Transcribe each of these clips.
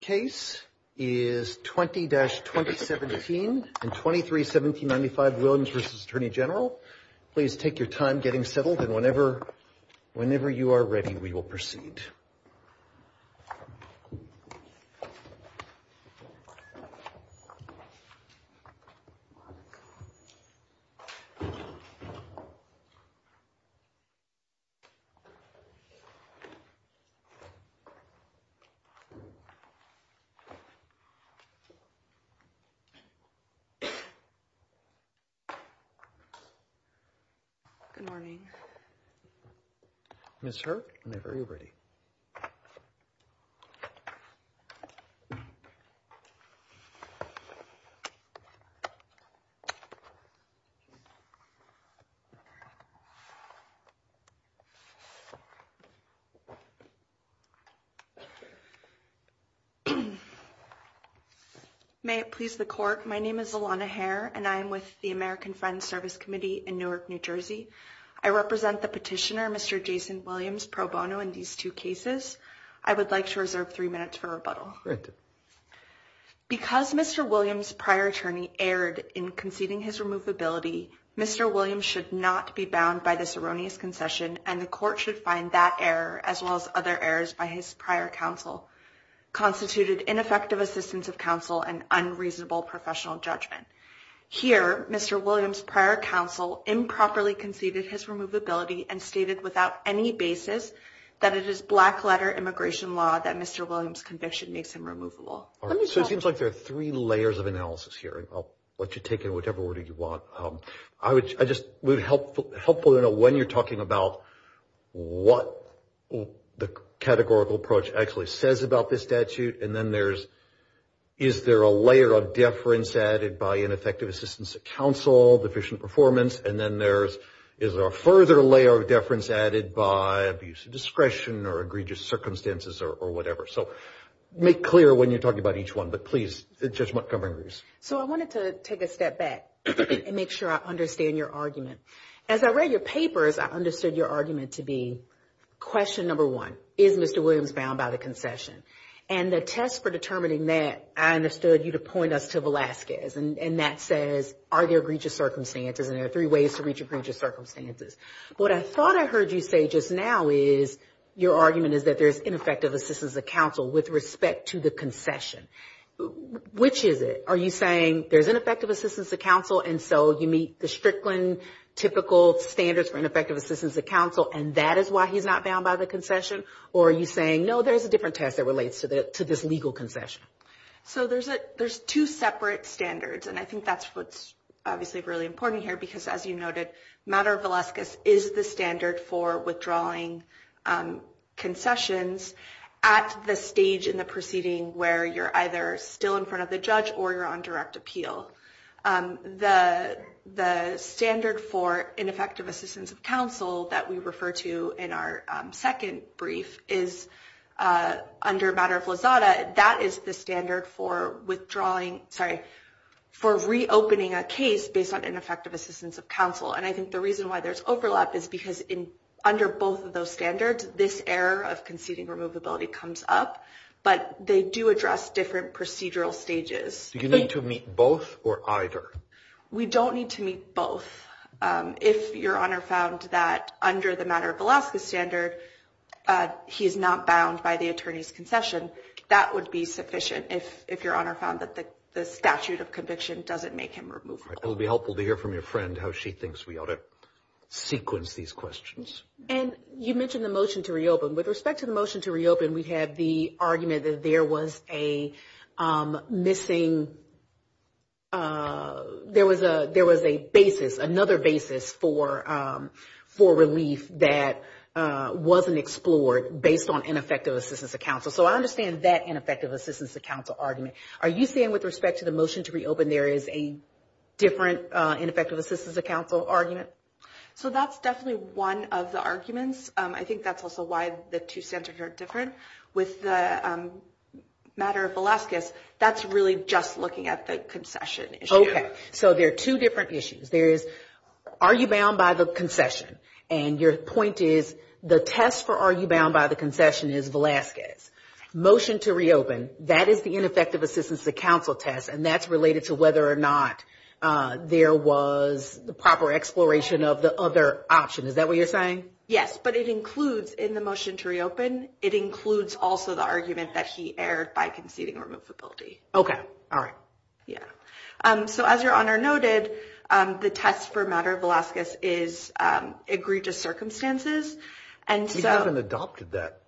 case is 20 dash 2017 and 23 1795 Williams versus Attorney General. Please take your time getting settled and whenever whenever you are ready, we will proceed. Silence. Silence. Good Morning Mr. very ready. Silence. Silence. May it please the court. My name is Alana hair and I'm with the American Friends Service Committee in Newark, New Jersey. I represent the petitioner Mr. Jason Williams pro bono in these two cases. I would like to reserve three minutes for rebuttal because Mr. Williams prior attorney erred in conceding his removability. Mr. Williams should not be bound by this erroneous concession and the court should find that error as well as other errors by his prior counsel constituted ineffective assistance of counsel and unreasonable professional judgment here. Mr. Williams prior counsel improperly conceded his removability and stated without any basis that it is black letter immigration law that Mr. Williams conviction makes him removable. So it seems like there are three layers of analysis here and I'll let you take in whatever order you want. I would I just would help helpful to know when you're talking about what the categorical approach actually says about this statute and then there's is there a layer of deference added by ineffective assistance of counsel deficient performance and then there's is there a further layer of deference added by abuse of discretion or egregious circumstances or whatever. So make clear when you're talking about each one, but please just Montgomery's. So I wanted to take a step back and make sure I understand your argument as I read your papers. I understood your argument to be question number one is Mr. Williams bound by the concession and the test for determining that I understood you to point us to Velasquez and that says are there egregious circumstances and there are three ways to reach egregious circumstances. What I thought I heard you say just now is your argument is that there's ineffective assistance of counsel with respect to the concession. Which is it? Are you saying there's an effective assistance of counsel? And so you meet the Strickland typical standards for ineffective assistance of counsel and that is why he's not bound by the concession or are you saying no, there's a different test that relates to the to this legal concession. So there's a there's two separate standards and I think that's what's obviously really important here because as you noted matter of Velasquez is the standard for withdrawing concessions at the stage in the proceeding where you're either still in front of the judge or you're on direct appeal. The the standard for ineffective assistance of counsel that we refer to in our second brief is under matter of Lazada. That is the standard for withdrawing. Sorry for reopening a case based on ineffective assistance of counsel. And I think the reason why there's overlap is because in under both of those standards this error of conceding removability comes up, but they do address different procedural stages. Do you need to meet both or either? We don't need to meet both. If your honor found that under the matter of Velasquez standard, he's not bound by the attorney's concession. That would be sufficient. If if your honor found that the statute of conviction doesn't make him remove. It'll be helpful to hear from your friend how she thinks we ought to sequence these questions. And you mentioned the motion to reopen with respect to the motion to reopen. We have the argument that there was a missing. There was a there was a basis another basis for for relief that wasn't explored based on ineffective assistance of counsel. So I understand that ineffective assistance of counsel argument. Are you saying with respect to the motion to reopen there is a different ineffective assistance of counsel argument? So that's definitely one of the arguments. I think that's also why the two standards are different with the matter of Velasquez. That's really just looking at the concession. Okay. So there are two different issues. There is are you bound by the concession? And your point is the test for are you bound by the concession is Velasquez motion to reopen. That is the ineffective assistance of counsel test. And that's related to whether or not there was the proper exploration of the other option. Is that what you're saying? Yes, but it includes in the motion to reopen. It includes also the argument that he erred by conceding removability. Okay. All right. Yeah. So as your honor noted, the test for matter of Velasquez is agreed to circumstances. And so I haven't adopted that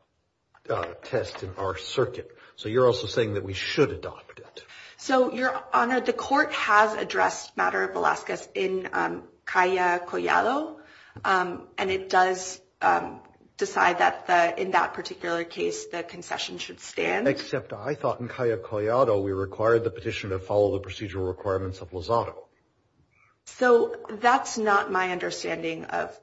test in our circuit. So you're also saying that we should adopt it. So your honor, the court has addressed matter of Velasquez in Calle Collado. And it does decide that in that particular case, the concession should stand. Except I thought in Calle Collado, we required the petition to follow the procedural requirements of Lozado. So that's not my understanding of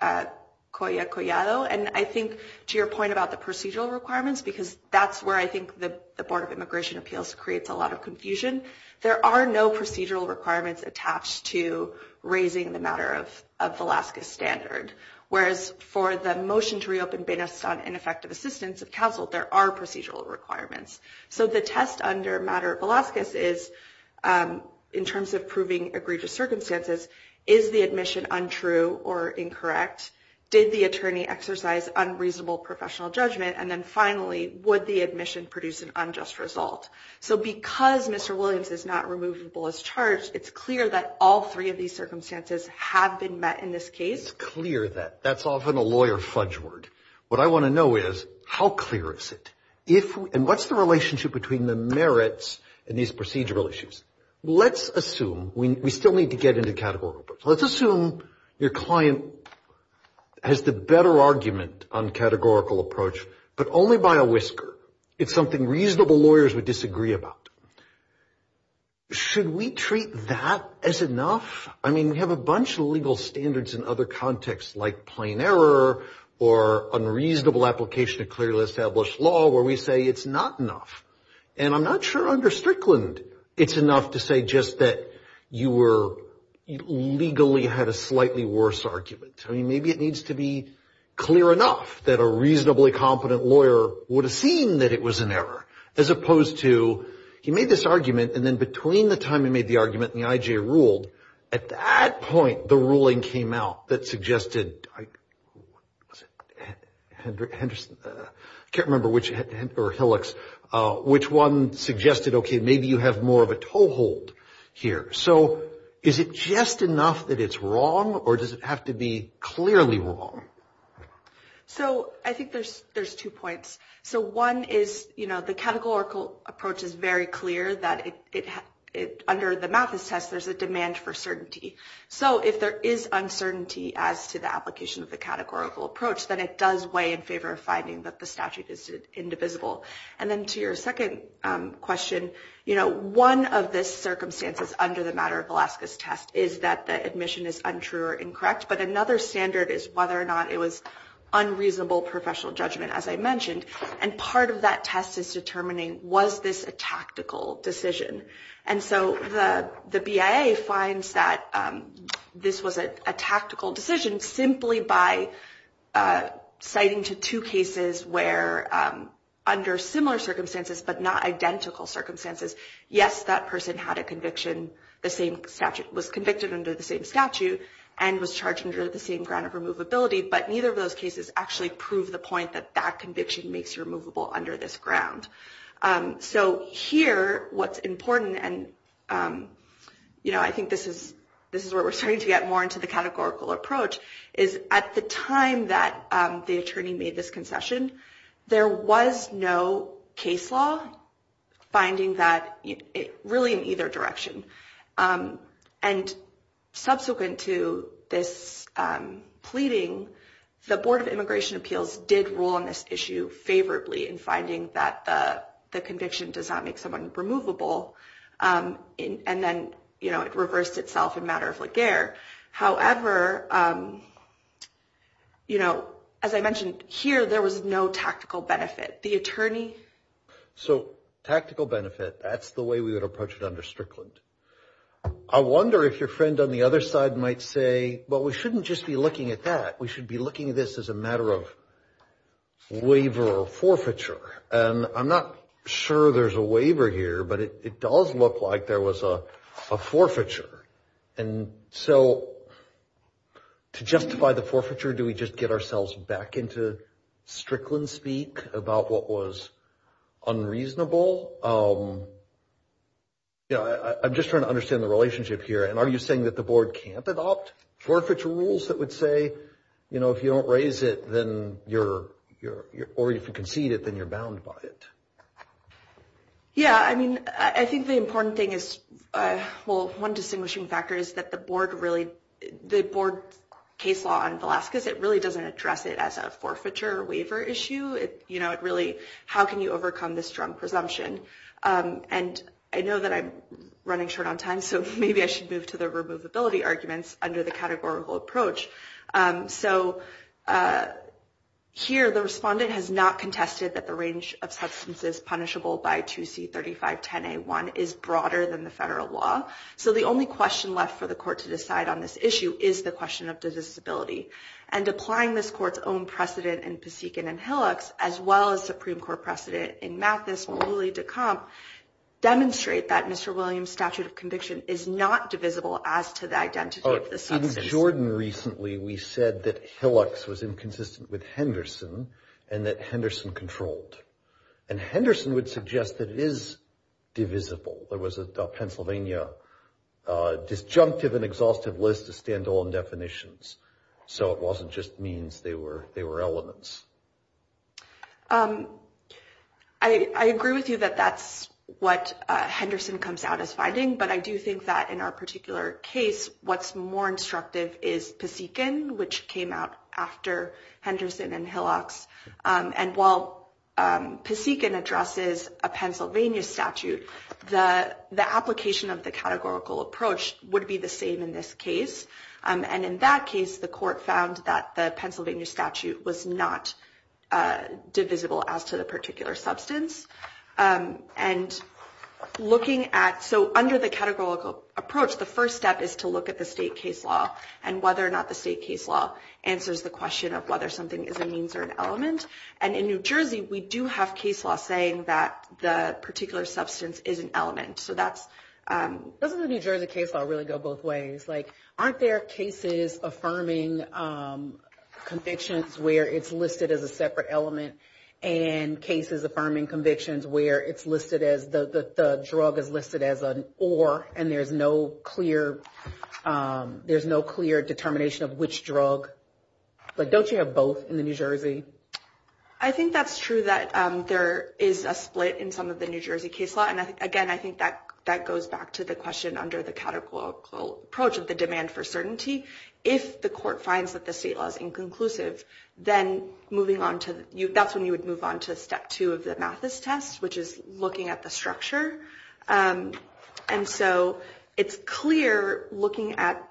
Calle Collado. And I think to your point about the procedural requirements, because that's where I think the Board of Immigration Appeals creates a lot of confusion. There are no procedural requirements attached to raising the matter of Velasquez standard. Whereas for the motion to reopen based on ineffective assistance of counsel, there are procedural requirements. So the test under matter of Velasquez is in terms of proving egregious circumstances. Is the admission untrue or incorrect? Did the attorney exercise unreasonable professional judgment? And then finally, would the admission produce an unjust result? So because Mr. Williams is not removable as charged, it's clear that all three of these circumstances have been met in this case. It's clear that. That's often a lawyer fudge word. What I want to know is how clear is it? And what's the relationship between the merits and these procedural issues? Let's assume we still need to get into categorical. Let's assume your client has the better argument on categorical approach, but only by a whisker. It's something reasonable lawyers would disagree about. Should we treat that as enough? I mean, we have a bunch of legal standards in other contexts like plain error or unreasonable application of clearly established law where we say it's not enough. And I'm not sure under Strickland, it's enough to say just that you were legally had a slightly worse argument. I mean, maybe it needs to be clear enough that a reasonably competent lawyer would have seen that it was an error as opposed to he made this argument. And then between the time he made the argument and the IJ ruled, at that point, the ruling came out that suggested. I can't remember which or Hillux, which one suggested, OK, maybe you have more of a toehold here. So is it just enough that it's wrong or does it have to be clearly wrong? So I think there's there's two points. So one is, you know, the categorical approach is very clear that it under the Mathis test, there's a demand for certainty. So if there is uncertainty as to the application of the categorical approach, then it does weigh in favor of finding that the statute is indivisible. And then to your second question, you know, one of the circumstances under the matter of Alaska's test is that the admission is untrue or incorrect. But another standard is whether or not it was unreasonable professional judgment, as I mentioned. And part of that test is determining, was this a tactical decision? And so the the BIA finds that this was a tactical decision simply by citing to two cases where under similar circumstances, but not identical circumstances. Yes, that person had a conviction. The same statute was convicted under the same statute and was charged under the same ground of removability. But neither of those cases actually prove the point that that conviction makes your movable under this ground. So here, what's important and, you know, I think this is this is where we're starting to get more into the categorical approach is at the time that the attorney made this concession. There was no case law finding that really in either direction. And subsequent to this pleading, the Board of Immigration Appeals did rule on this issue favorably in finding that the conviction does not make someone removable. And then, you know, it reversed itself in matter of la guerre. However, you know, as I mentioned here, there was no tactical benefit. The attorney. So tactical benefit. That's the way we would approach it under Strickland. I wonder if your friend on the other side might say, well, we shouldn't just be looking at that. We should be looking at this as a matter of waiver or forfeiture. And I'm not sure there's a waiver here, but it does look like there was a forfeiture. And so to justify the forfeiture, do we just get ourselves back into Strickland speak about what was unreasonable? You know, I'm just trying to understand the relationship here. And are you saying that the board can't adopt forfeiture rules that would say, you know, if you don't raise it, then you're, or if you concede it, then you're bound by it? Yeah, I mean, I think the important thing is, well, one distinguishing factor is that the board really, the board case law on Velazquez, it really doesn't address it as a forfeiture waiver issue. You know, it really, how can you overcome this strong presumption? And I know that I'm running short on time, so maybe I should move to the removability arguments under the categorical approach. So here, the respondent has not contested that the range of substances punishable by 2C3510A1 is broader than the federal law. So the only question left for the court to decide on this issue is the question of the disability. And applying this court's own precedent in Pasekin and Hillox, as well as Supreme Court precedent in Mathis, Mulally, DeComp, demonstrate that Mr. Williams' statute of conviction is not divisible as to the identity of the substance. In Jordan recently, we said that Hillox was inconsistent with Henderson and that Henderson controlled. And Henderson would suggest that it is divisible. There was a Pennsylvania disjunctive and exhaustive list of stand-alone definitions. So it wasn't just means, they were elements. I agree with you that that's what Henderson comes out as finding. But I do think that in our particular case, what's more instructive is Pasekin, which came out after Henderson and Hillox. And while Pasekin addresses a Pennsylvania statute, the application of the categorical approach would be the same in this case. And in that case, the court found that the Pennsylvania statute was not divisible as to the particular substance. And looking at, so under the categorical approach, the first step is to look at the state case law and whether or not the state case law answers the question of whether something is a means or an element. And in New Jersey, we do have case law saying that the particular substance is an element. So that's... Doesn't the New Jersey case law really go both ways? Like, aren't there cases affirming convictions where it's listed as a separate element and cases affirming convictions where it's listed as the drug is listed as an or and there's no clear determination of which drug? But don't you have both in the New Jersey? I think that's true that there is a split in some of the New Jersey case law. And again, I think that that goes back to the question under the categorical approach of the demand for certainty. If the court finds that the state law is inconclusive, then moving on to you, that's when you would move on to step two of the Mathis test, which is looking at the structure. And so it's clear looking at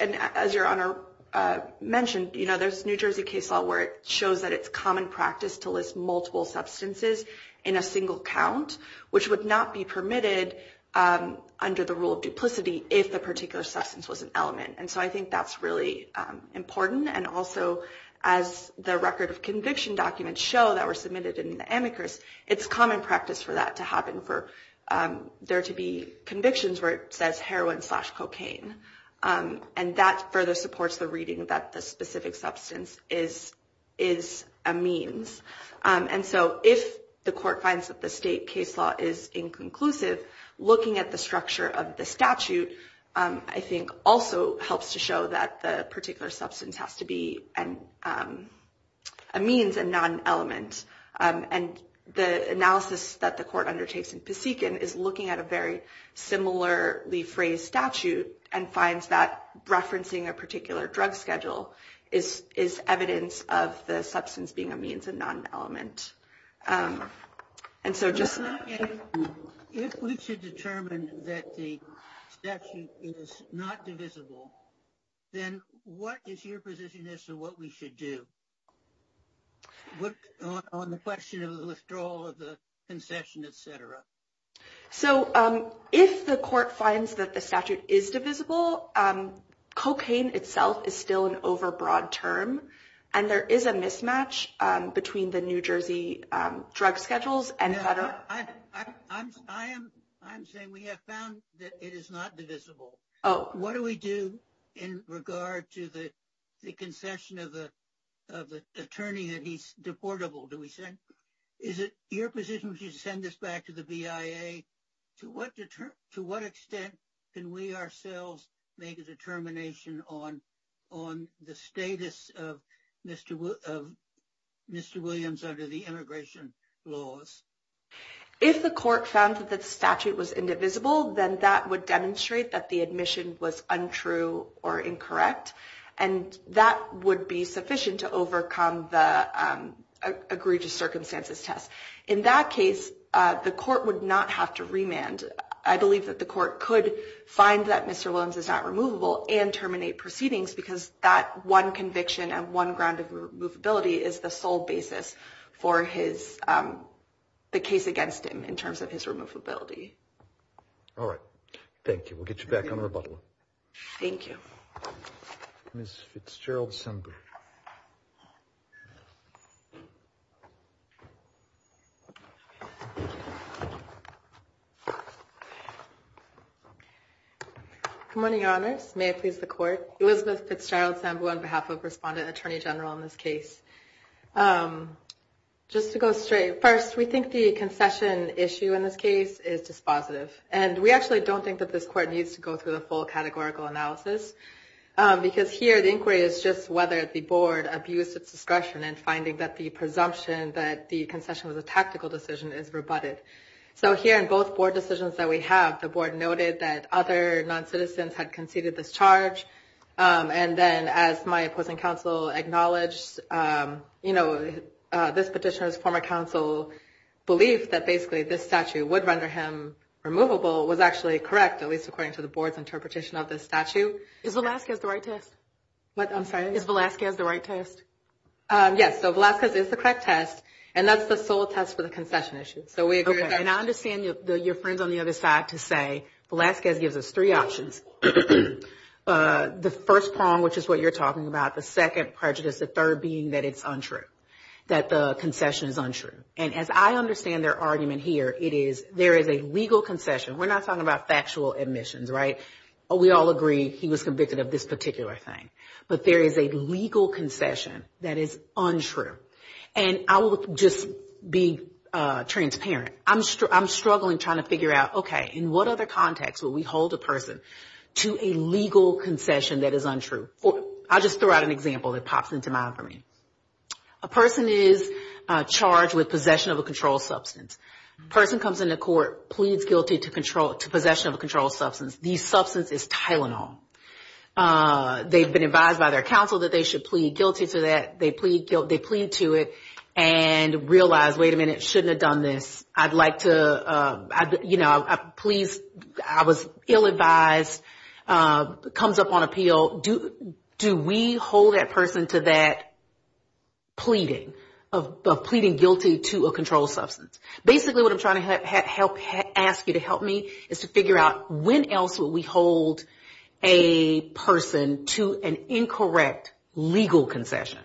and as your honor mentioned, you know, there's New Jersey case law where it shows that it's common practice to list multiple substances in a single count. Which would not be permitted under the rule of duplicity if the particular substance was an element. And so I think that's really important. And also, as the record of conviction documents show that were submitted in the amicus, it's common practice for that to happen for there to be convictions where it says heroin slash cocaine. And that further supports the reading that the specific substance is a means. And so if the court finds that the state case law is inconclusive, looking at the structure of the statute, I think also helps to show that the particular substance has to be a means and not an element. And the analysis that the court undertakes in Pasekin is looking at a very similarly phrased statute and finds that referencing a particular drug schedule is evidence of the substance being a means and not an element. And so just. If we should determine that the statute is not divisible, then what is your position as to what we should do? What on the question of the withdrawal of the concession, et cetera. So if the court finds that the statute is divisible, cocaine itself is still an overbroad term, and there is a mismatch between the New Jersey drug schedules and federal. I, I'm, I am. I'm saying we have found that it is not divisible. Oh, what do we do? In regard to the concession of the of the attorney that he's deportable, do we send is it your position to send this back to the BIA to what to what extent can we ourselves make a determination on on the status of Mr. Mr. Williams under the immigration laws, if the court found that the statute was indivisible, then that would demonstrate that the admission was untrue or incorrect. And that would be sufficient to overcome the egregious circumstances test. In that case, the court would not have to remand. I believe that the court could find that Mr. Williams is not removable and terminate proceedings because that one conviction and one ground of removability is the sole basis for his the case against him in terms of his removability. All right. Thank you. We'll get you back on rebuttal. Thank you. Miss Fitzgerald. Assembly. Good morning, Your Honors. May it please the court. Elizabeth Fitzgerald Sambo on behalf of Respondent Attorney General in this case. Just to go straight. First, we think the concession issue in this case is dispositive, and we actually don't think that this court needs to go through the full categorical analysis. Because here, the inquiry is just whether the board abused its discretion and finding that the presumption that the concession was a tactical decision is rebutted. So here in both board decisions that we have, the board noted that other noncitizens had conceded this charge. And then as my opposing counsel acknowledged, you know, this petitioner's former counsel belief that basically this statute would render him removable was actually correct, at least according to the board's interpretation of the statute. Is Velazquez the right test? What? I'm sorry? Is Velazquez the right test? Yes. So Velazquez is the correct test. And that's the sole test for the concession issue. So we agree with that. And I understand your friends on the other side to say Velazquez gives us three options. The first prong, which is what you're talking about, the second prejudice, the third being that it's untrue. That the concession is untrue. And as I understand their argument here, it is there is a legal concession. We're not talking about factual admissions, right? We all agree he was convicted of this particular thing. But there is a legal concession that is untrue. And I will just be transparent. I'm struggling trying to figure out, okay, in what other context would we hold a person to a legal concession that is untrue? I'll just throw out an example that pops into mind for me. A person is charged with possession of a controlled substance. Person comes into court, pleads guilty to possession of a controlled substance. The substance is Tylenol. They've been advised by their counsel that they should plead guilty to that. They plead to it and realize, wait a minute, shouldn't have done this. I'd like to, you know, please, I was ill-advised. Comes up on appeal. Do we hold that person to that pleading of pleading guilty to a controlled substance? Basically, what I'm trying to ask you to help me is to figure out when else would we hold a person to an incorrect legal concession?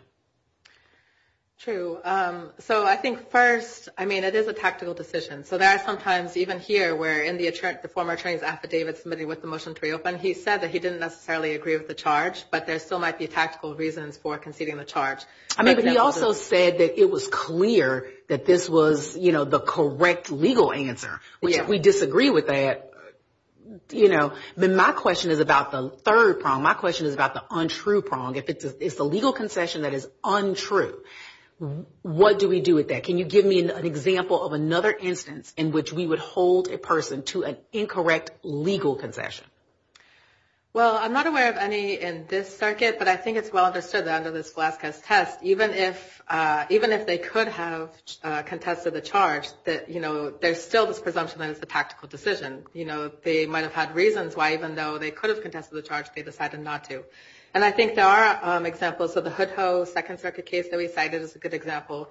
True. So I think first, I mean, it is a tactical decision. So there are some times even here where in the former attorney's affidavit submitted with the motion to reopen, he said that he didn't necessarily agree with the charge, but there still might be tactical reasons for conceding the charge. I mean, but he also said that it was clear that this was, you know, the correct legal answer. If we disagree with that, you know, then my question is about the third prong. My question is about the untrue prong. If it's a legal concession that is untrue, what do we do with that? Can you give me an example of another instance in which we would hold a person to an incorrect legal concession? Well, I'm not aware of any in this circuit, but I think it's well understood that under this Velazquez test, even if they could have contested the charge, that, you know, there's still this presumption that it's a tactical decision. You know, they might have had reasons why even though they could have contested the charge, they decided not to. And I think there are examples of the Hood Ho second circuit case that we cited as a good example,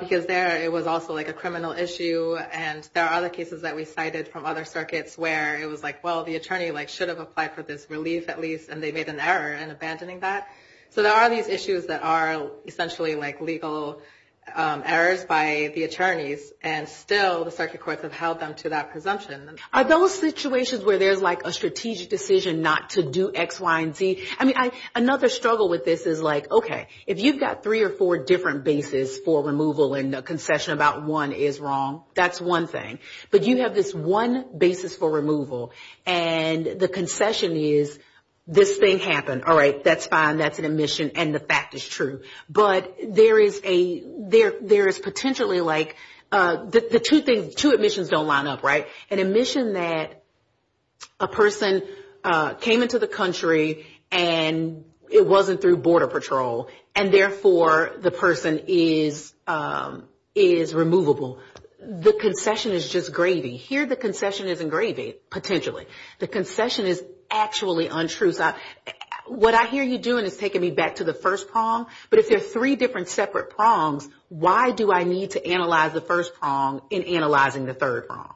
because there it was also like a criminal issue. And there are other cases that we cited from other circuits where it was like, well, the attorney like should have applied for this relief at least. And they made an error in abandoning that. So there are these issues that are essentially like legal errors by the attorneys. And still the circuit courts have held them to that presumption. Are those situations where there's like a strategic decision not to do X, Y and Z? I mean, another struggle with this is like, OK, if you've got three or four different bases for removal and concession, about one is wrong. That's one thing. But you have this one basis for removal and the concession is this thing happened. All right. That's fine. That's an admission. And the fact is true. But there is a there there is potentially like the two things, two admissions don't line up right. An admission that a person came into the country and it wasn't through border patrol and therefore the person is is removable. The concession is just gravy here. The concession isn't gravy. Potentially the concession is actually untrue. So what I hear you doing is taking me back to the first prong. But if there are three different separate prongs, why do I need to analyze the first prong in analyzing the third prong?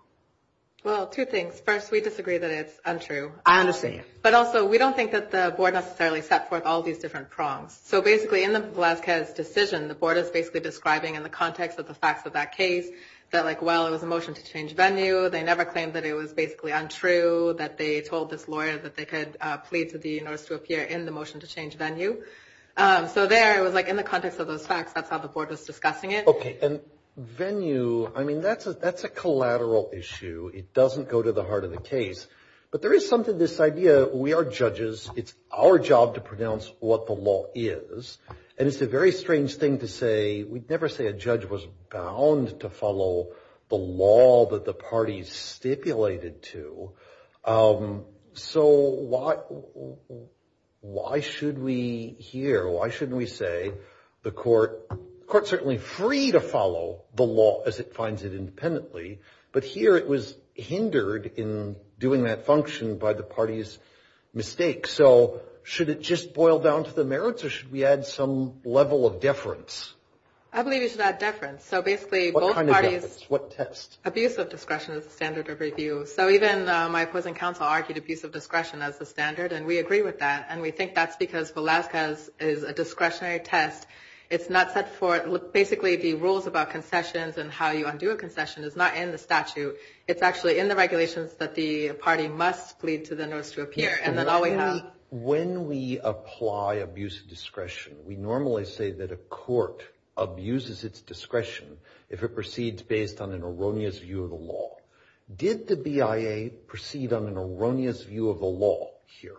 Well, two things. First, we disagree that it's untrue. I understand. But also, we don't think that the board necessarily set forth all these different prongs. So basically, in the Velazquez decision, the board is basically describing in the context of the facts of that case that like, well, it was a motion to change venue. They never claimed that it was basically untrue, that they told this lawyer that they could plead to the notice to appear in the motion to change venue. So there it was like in the context of those facts. That's how the board was discussing it. Okay. And venue. I mean, that's a that's a collateral issue. It doesn't go to the heart of the case. But there is something this idea. We are judges. It's our job to pronounce what the law is. And it's a very strange thing to say. We'd never say a judge was bound to follow the law that the parties stipulated to. So why should we here? Why shouldn't we say the court court certainly free to follow the law as it finds it independently. But here it was hindered in doing that function by the party's mistake. So should it just boil down to the merits or should we add some level of deference? I believe it's that difference. So basically, both parties, what test abuse of discretion is the standard of review. So even my opposing counsel argued abuse of discretion as the standard. And we agree with that. And we think that's because Velazquez is a discretionary test. It's not set for basically the rules about concessions and how you undo a concession is not in the statute. It's actually in the regulations that the party must plead to the notice to appear. And then all we have when we apply abuse of discretion, we normally say that a court abuses its discretion if it proceeds based on an erroneous view of the law. Did the BIA proceed on an erroneous view of the law here?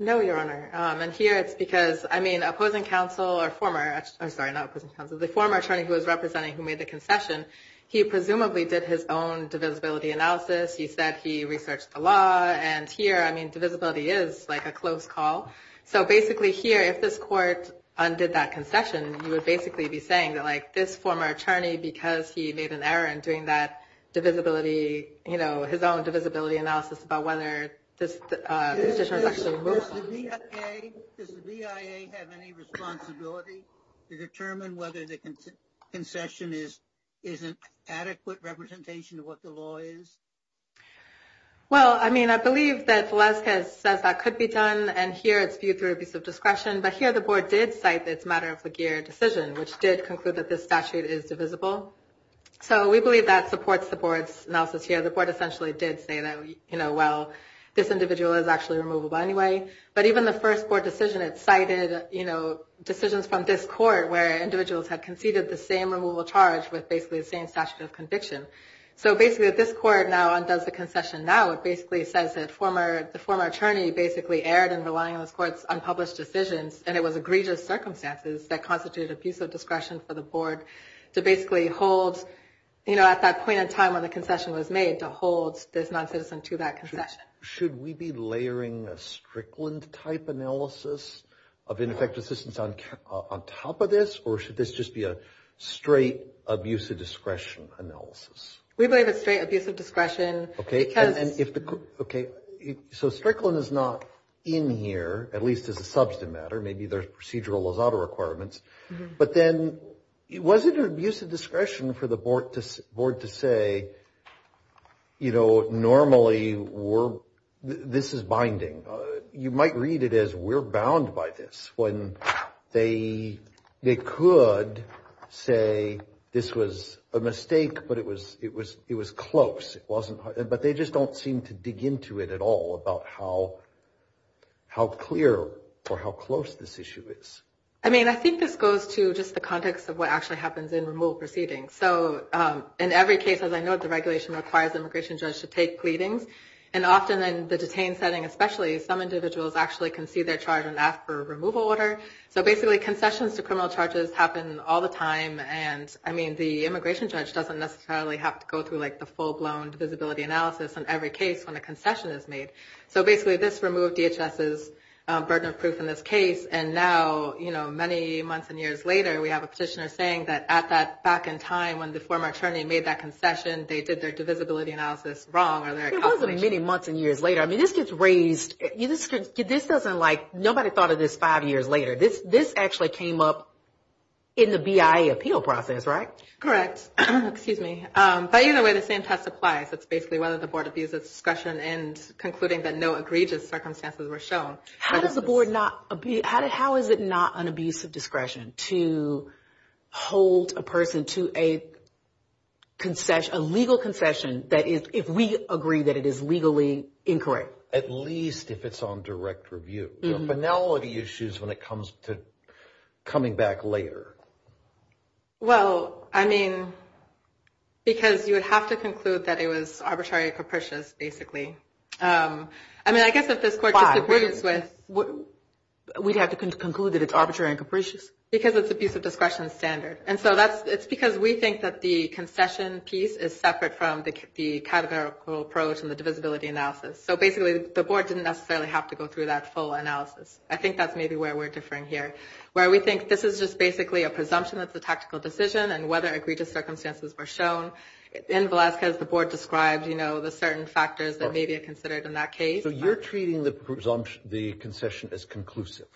No, Your Honor. And here it's because, I mean, opposing counsel or former, I'm sorry, not opposing counsel, the former attorney who was representing who made the concession, he presumably did his own divisibility analysis. He said he researched the law. And here, I mean, divisibility is like a close call. So basically here, if this court undid that concession, you would basically be saying that, like, this former attorney, because he made an error in doing that divisibility, you know, his own divisibility analysis about whether this discretion was actually moved on. Does the BIA have any responsibility to determine whether the concession is an adequate representation of what the law is? Well, I mean, I believe that Valeska says that could be done. And here it's viewed through abuse of discretion. But here the board did cite that it's a matter of Laguerre decision, which did conclude that this statute is divisible. So we believe that supports the board's analysis here. The board essentially did say that, you know, well, this individual is actually removable anyway. But even the first board decision, it cited, you know, decisions from this court where individuals had conceded the same removal charge with basically the same statute of conviction. So basically, if this court now undoes the concession now, it basically says that the former attorney basically erred in relying on this court's unpublished decisions. And it was egregious circumstances that constituted abuse of discretion for the board to basically hold, you know, at that point in time when the concession was made, to hold this noncitizen to that concession. Should we be layering a Strickland type analysis of ineffective assistance on top of this? Or should this just be a straight abuse of discretion analysis? We believe it's straight abuse of discretion. OK, and if the OK, so Strickland is not in here, at least as a substantive matter. Maybe there's procedural Lozada requirements. But then it wasn't an abuse of discretion for the board to board to say, you know, normally we're this is binding. You might read it as we're bound by this when they they could say this was a mistake. But it was it was it was close. It wasn't. But they just don't seem to dig into it at all about how how clear or how close this issue is. I mean, I think this goes to just the context of what actually happens in removal proceedings. So in every case, as I know, the regulation requires immigration judge to take pleadings. And often in the detained setting, especially some individuals actually can see their charge and ask for a removal order. So basically concessions to criminal charges happen all the time. And I mean, the immigration judge doesn't necessarily have to go through like the full blown visibility analysis on every case when a concession is made. So basically this removed DHS's burden of proof in this case. And now, you know, many months and years later, we have a petitioner saying that at that back in time when the former attorney made that concession, they did their divisibility analysis wrong or there wasn't many months and years later. I mean, this gets raised. This doesn't like nobody thought of this five years later. This this actually came up in the BIA appeal process. Right. Correct. Excuse me. But either way, the same test applies. It's basically whether the board abuses discussion and concluding that no egregious circumstances were shown. How does the board not be how did how is it not an abuse of discretion to hold a person to a concession, a legal concession? That is, if we agree that it is legally incorrect, at least if it's on direct review, finality issues when it comes to coming back later. Well, I mean, because you would have to conclude that it was arbitrary and capricious, basically. I mean, I guess if this court disagrees with what we'd have to conclude that it's arbitrary and capricious because it's abuse of discretion standard. And so that's it's because we think that the concession piece is separate from the categorical approach and the divisibility analysis. So basically, the board didn't necessarily have to go through that full analysis. I think that's maybe where we're differing here, where we think this is just basically a presumption of the tactical decision and whether egregious circumstances were shown. In Velasquez, the board described, you know, the certain factors that may be considered in that case. So you're treating the presumption, the concession as conclusive.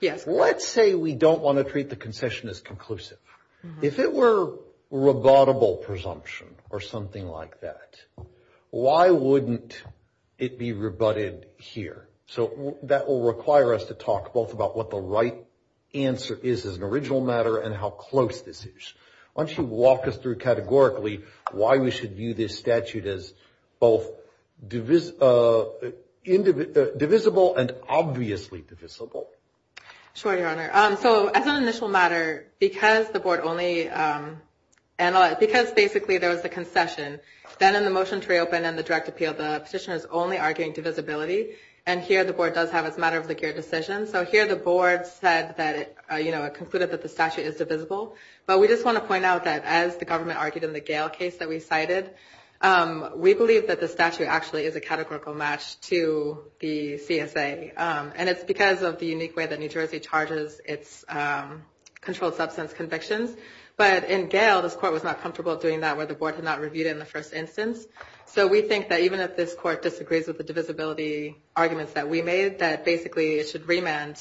Yes. Let's say we don't want to treat the concession as conclusive. If it were rebuttable presumption or something like that, why wouldn't it be rebutted here? So that will require us to talk both about what the right answer is as an original matter and how close this is. Why don't you walk us through categorically why we should view this statute as both divisible and obviously divisible? Sure, Your Honor. So as an initial matter, because the board only analyzed, because basically there was the concession, then in the motion to reopen and the direct appeal, the petitioner is only arguing divisibility. And here the board does have its matter of the gear decision. So here the board said that, you know, it concluded that the statute is divisible. But we just want to point out that as the government argued in the Gale case that we cited, we believe that the statute actually is a categorical match to the CSA. And it's because of the unique way that New Jersey charges its controlled substance convictions. But in Gale, this court was not comfortable doing that where the board had not reviewed it in the first instance. So we think that even if this court disagrees with the divisibility arguments that we made, that basically it should remand,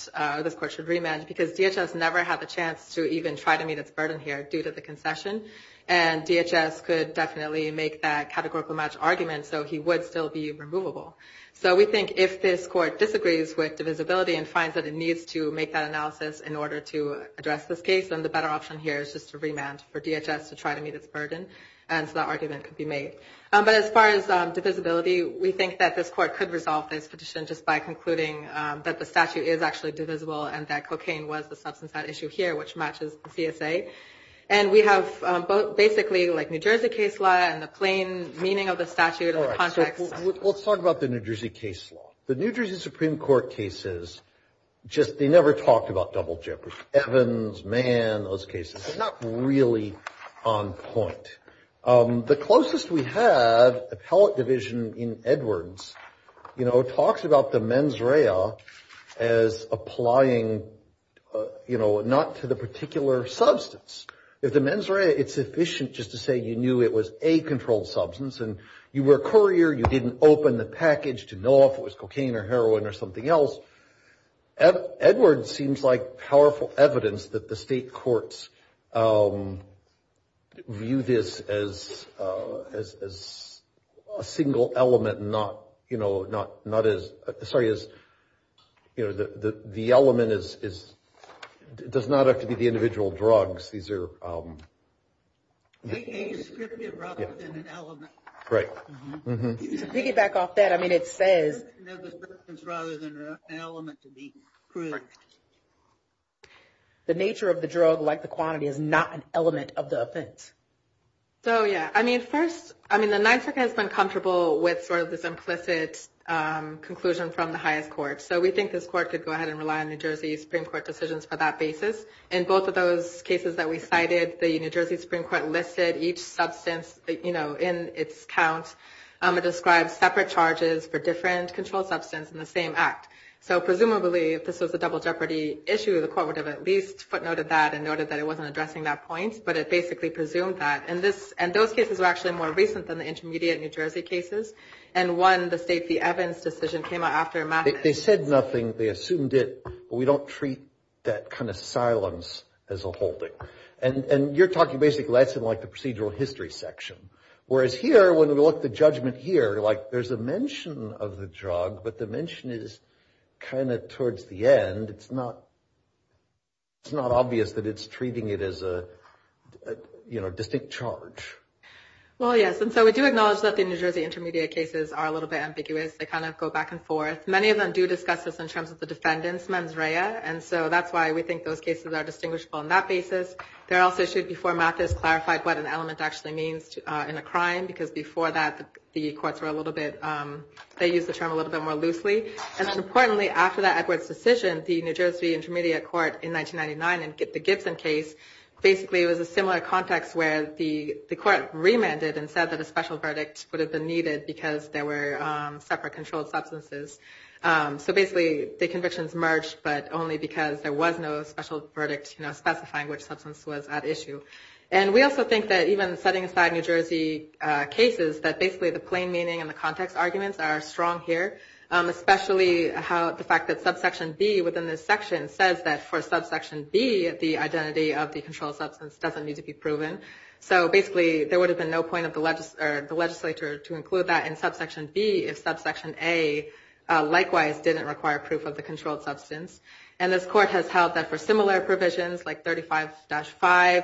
this court should remand because DHS never had the chance to even try to meet its burden here due to the concession. And DHS could definitely make that categorical match argument. So he would still be removable. So we think if this court disagrees with divisibility and finds that it needs to make that analysis in order to address this case, then the better option here is just to remand for DHS to try to meet its burden. And so that argument could be made. But as far as divisibility, we think that this court could resolve this petition just by concluding that the statute is actually divisible and that cocaine was the substance at issue here, which matches the CSA. And we have both basically like New Jersey case law and the plain meaning of the statute. All right, so let's talk about the New Jersey case law. The New Jersey Supreme Court cases just they never talked about double jeopardy, Evans, Mann, those cases. It's not really on point. The closest we have appellate division in Edwards, you know, talks about the mens rea as applying, you know, not to the particular substance. If the mens rea, it's efficient just to say you knew it was a controlled substance and you were a courier. You didn't open the package to know if it was cocaine or heroin or something else. Edwards seems like powerful evidence that the state courts view this as a single element, not, you know, not not as sorry, as you know, the element is does not have to be the individual drugs. These are. Scripted rather than an element, right? Piggyback off that. I mean, it says rather than an element to be. The nature of the drug, like the quantity is not an element of the offense. So, yeah, I mean, first, I mean, the NYSERDA has been comfortable with sort of this implicit conclusion from the highest court. So we think this court could go ahead and rely on New Jersey Supreme Court decisions for that basis. In both of those cases that we cited, the New Jersey Supreme Court listed each substance, you know, in its count. It describes separate charges for different controlled substance in the same act. So presumably, if this was a double jeopardy issue, the court would have at least footnoted that and noted that it wasn't addressing that point. But it basically presumed that. And this and those cases are actually more recent than the intermediate New Jersey cases. And one, the state, the Evans decision came out after. They said nothing. They assumed it. But we don't treat that kind of silence as a holding. And you're talking basically that's in like the procedural history section. Whereas here, when we look at the judgment here, like there's a mention of the drug, but the mention is kind of towards the end. It's not obvious that it's treating it as a, you know, distinct charge. Well, yes. And so we do acknowledge that the New Jersey intermediate cases are a little bit ambiguous. They kind of go back and forth. Many of them do discuss this in terms of the defendant's mens rea. And so that's why we think those cases are distinguishable on that basis. There also should, before Mathis, clarified what an element actually means in a crime. Because before that, the courts were a little bit, they used the term a little bit more loosely. And then importantly, after that Edwards decision, the New Jersey intermediate court in 1999 in the Gibson case, basically it was a similar context where the court remanded and said that a special verdict would have been needed because there were separate controlled substances. So basically the convictions merged, but only because there was no special verdict specifying which substance was at issue. And we also think that even setting aside New Jersey cases, that basically the plain meaning and the context arguments are strong here. Especially how the fact that subsection B within this section says that for subsection B, the identity of the controlled substance doesn't need to be proven. So basically there would have been no point of the legislature to include that in subsection B if subsection A likewise didn't require proof of the controlled substance. And this court has held that for similar provisions, like 35-5,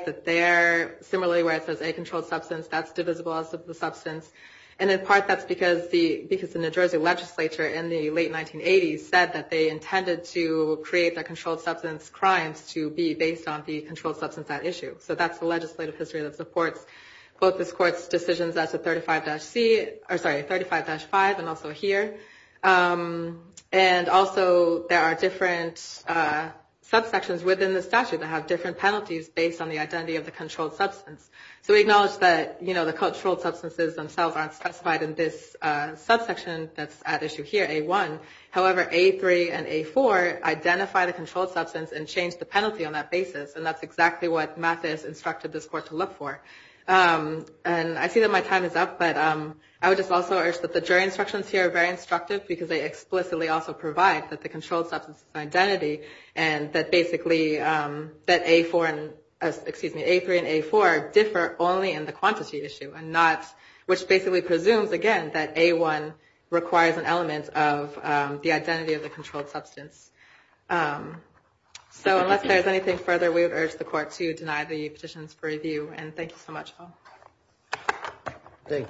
that there, similarly where it says a controlled substance, that's divisible as a substance. And in part that's because the New Jersey legislature in the late 1980s said that they intended to create the controlled substance crimes to be based on the controlled substance at issue. So that's the legislative history that supports both this court's decisions as to 35-5 and also here. And also there are different subsections within the statute that have different penalties based on the identity of the controlled substance. So we acknowledge that the controlled substances themselves aren't specified in this subsection that's at issue here, A1. However, A3 and A4 identify the controlled substance and change the penalty on that basis. And that's exactly what Mathis instructed this court to look for. And I see that my time is up, but I would just also urge that the jury instructions here are very instructive because they explicitly also provide that the controlled substance's identity and that basically that A4 and, excuse me, A3 and A4 differ only in the quantity issue and not, which basically presumes again that A1 requires an element of the identity of the controlled substance. So unless there's anything further, we would urge the court to deny the petitions for review. And thank you so much, Paul. Thank you.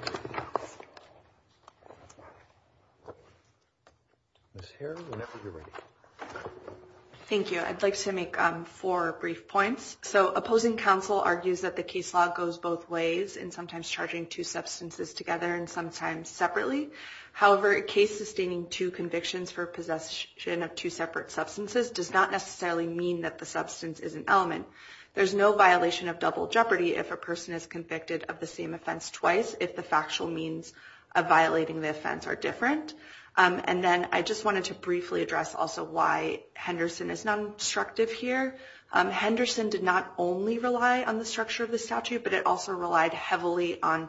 Thank you. I'd like to make four brief points. So opposing counsel argues that the case law goes both ways and sometimes charging two substances together and sometimes separately. However, a case sustaining two convictions for possession of two separate substances does not necessarily mean that the substance is an element. There's no violation of double jeopardy if a person is convicted of the same offense twice if the factual means of violating the offense are different. And then I just wanted to briefly address also why Henderson is not instructive here. Henderson did not only rely on the structure of the statute, but it also relied heavily on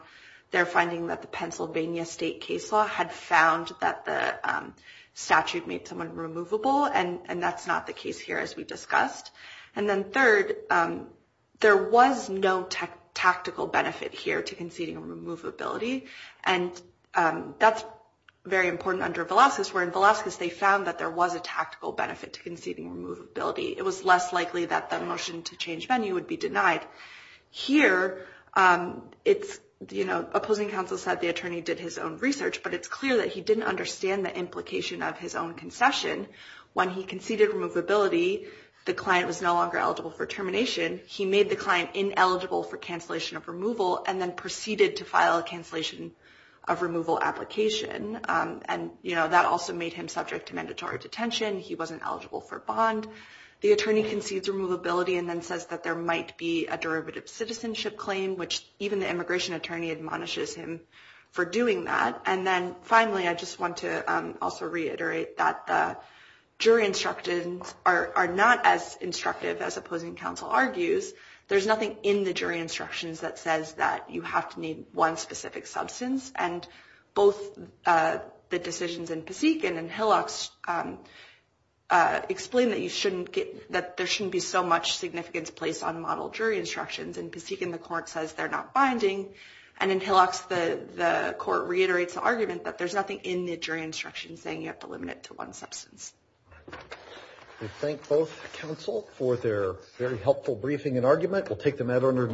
their finding that the Pennsylvania State case law had found that the statute made someone removable and that's not the case here as we discussed. And then third, there was no tactical benefit here to conceding removability. And that's very important under Velazquez, where in Velazquez they found that there was a tactical benefit to conceding removability. It was less likely that the motion to change venue would be denied. Here, opposing counsel said the attorney did his own research, but it's clear that he didn't understand the implication of his own concession. When he conceded removability, the client was no longer eligible for termination. He made the client ineligible for cancellation of removal and then proceeded to file a cancellation of removal application. And that also made him subject to mandatory detention. He wasn't eligible for bond. The attorney concedes removability and then says that there might be a derivative citizenship claim, which even the immigration attorney admonishes him for doing that. And then finally, I just want to also reiterate that the jury instructions are not as instructive as opposing counsel argues. There's nothing in the jury instructions that says that you have to need one specific substance. And both the decisions in Pasek and in Hillox explain that there shouldn't be so much significance placed on model jury instructions. In Pasek, the court says they're not binding. And in Hillox, the court reiterates the argument that there's nothing in the jury instructions saying you have to limit it to one substance. We thank both counsel for their very helpful briefing and argument. We'll take them out.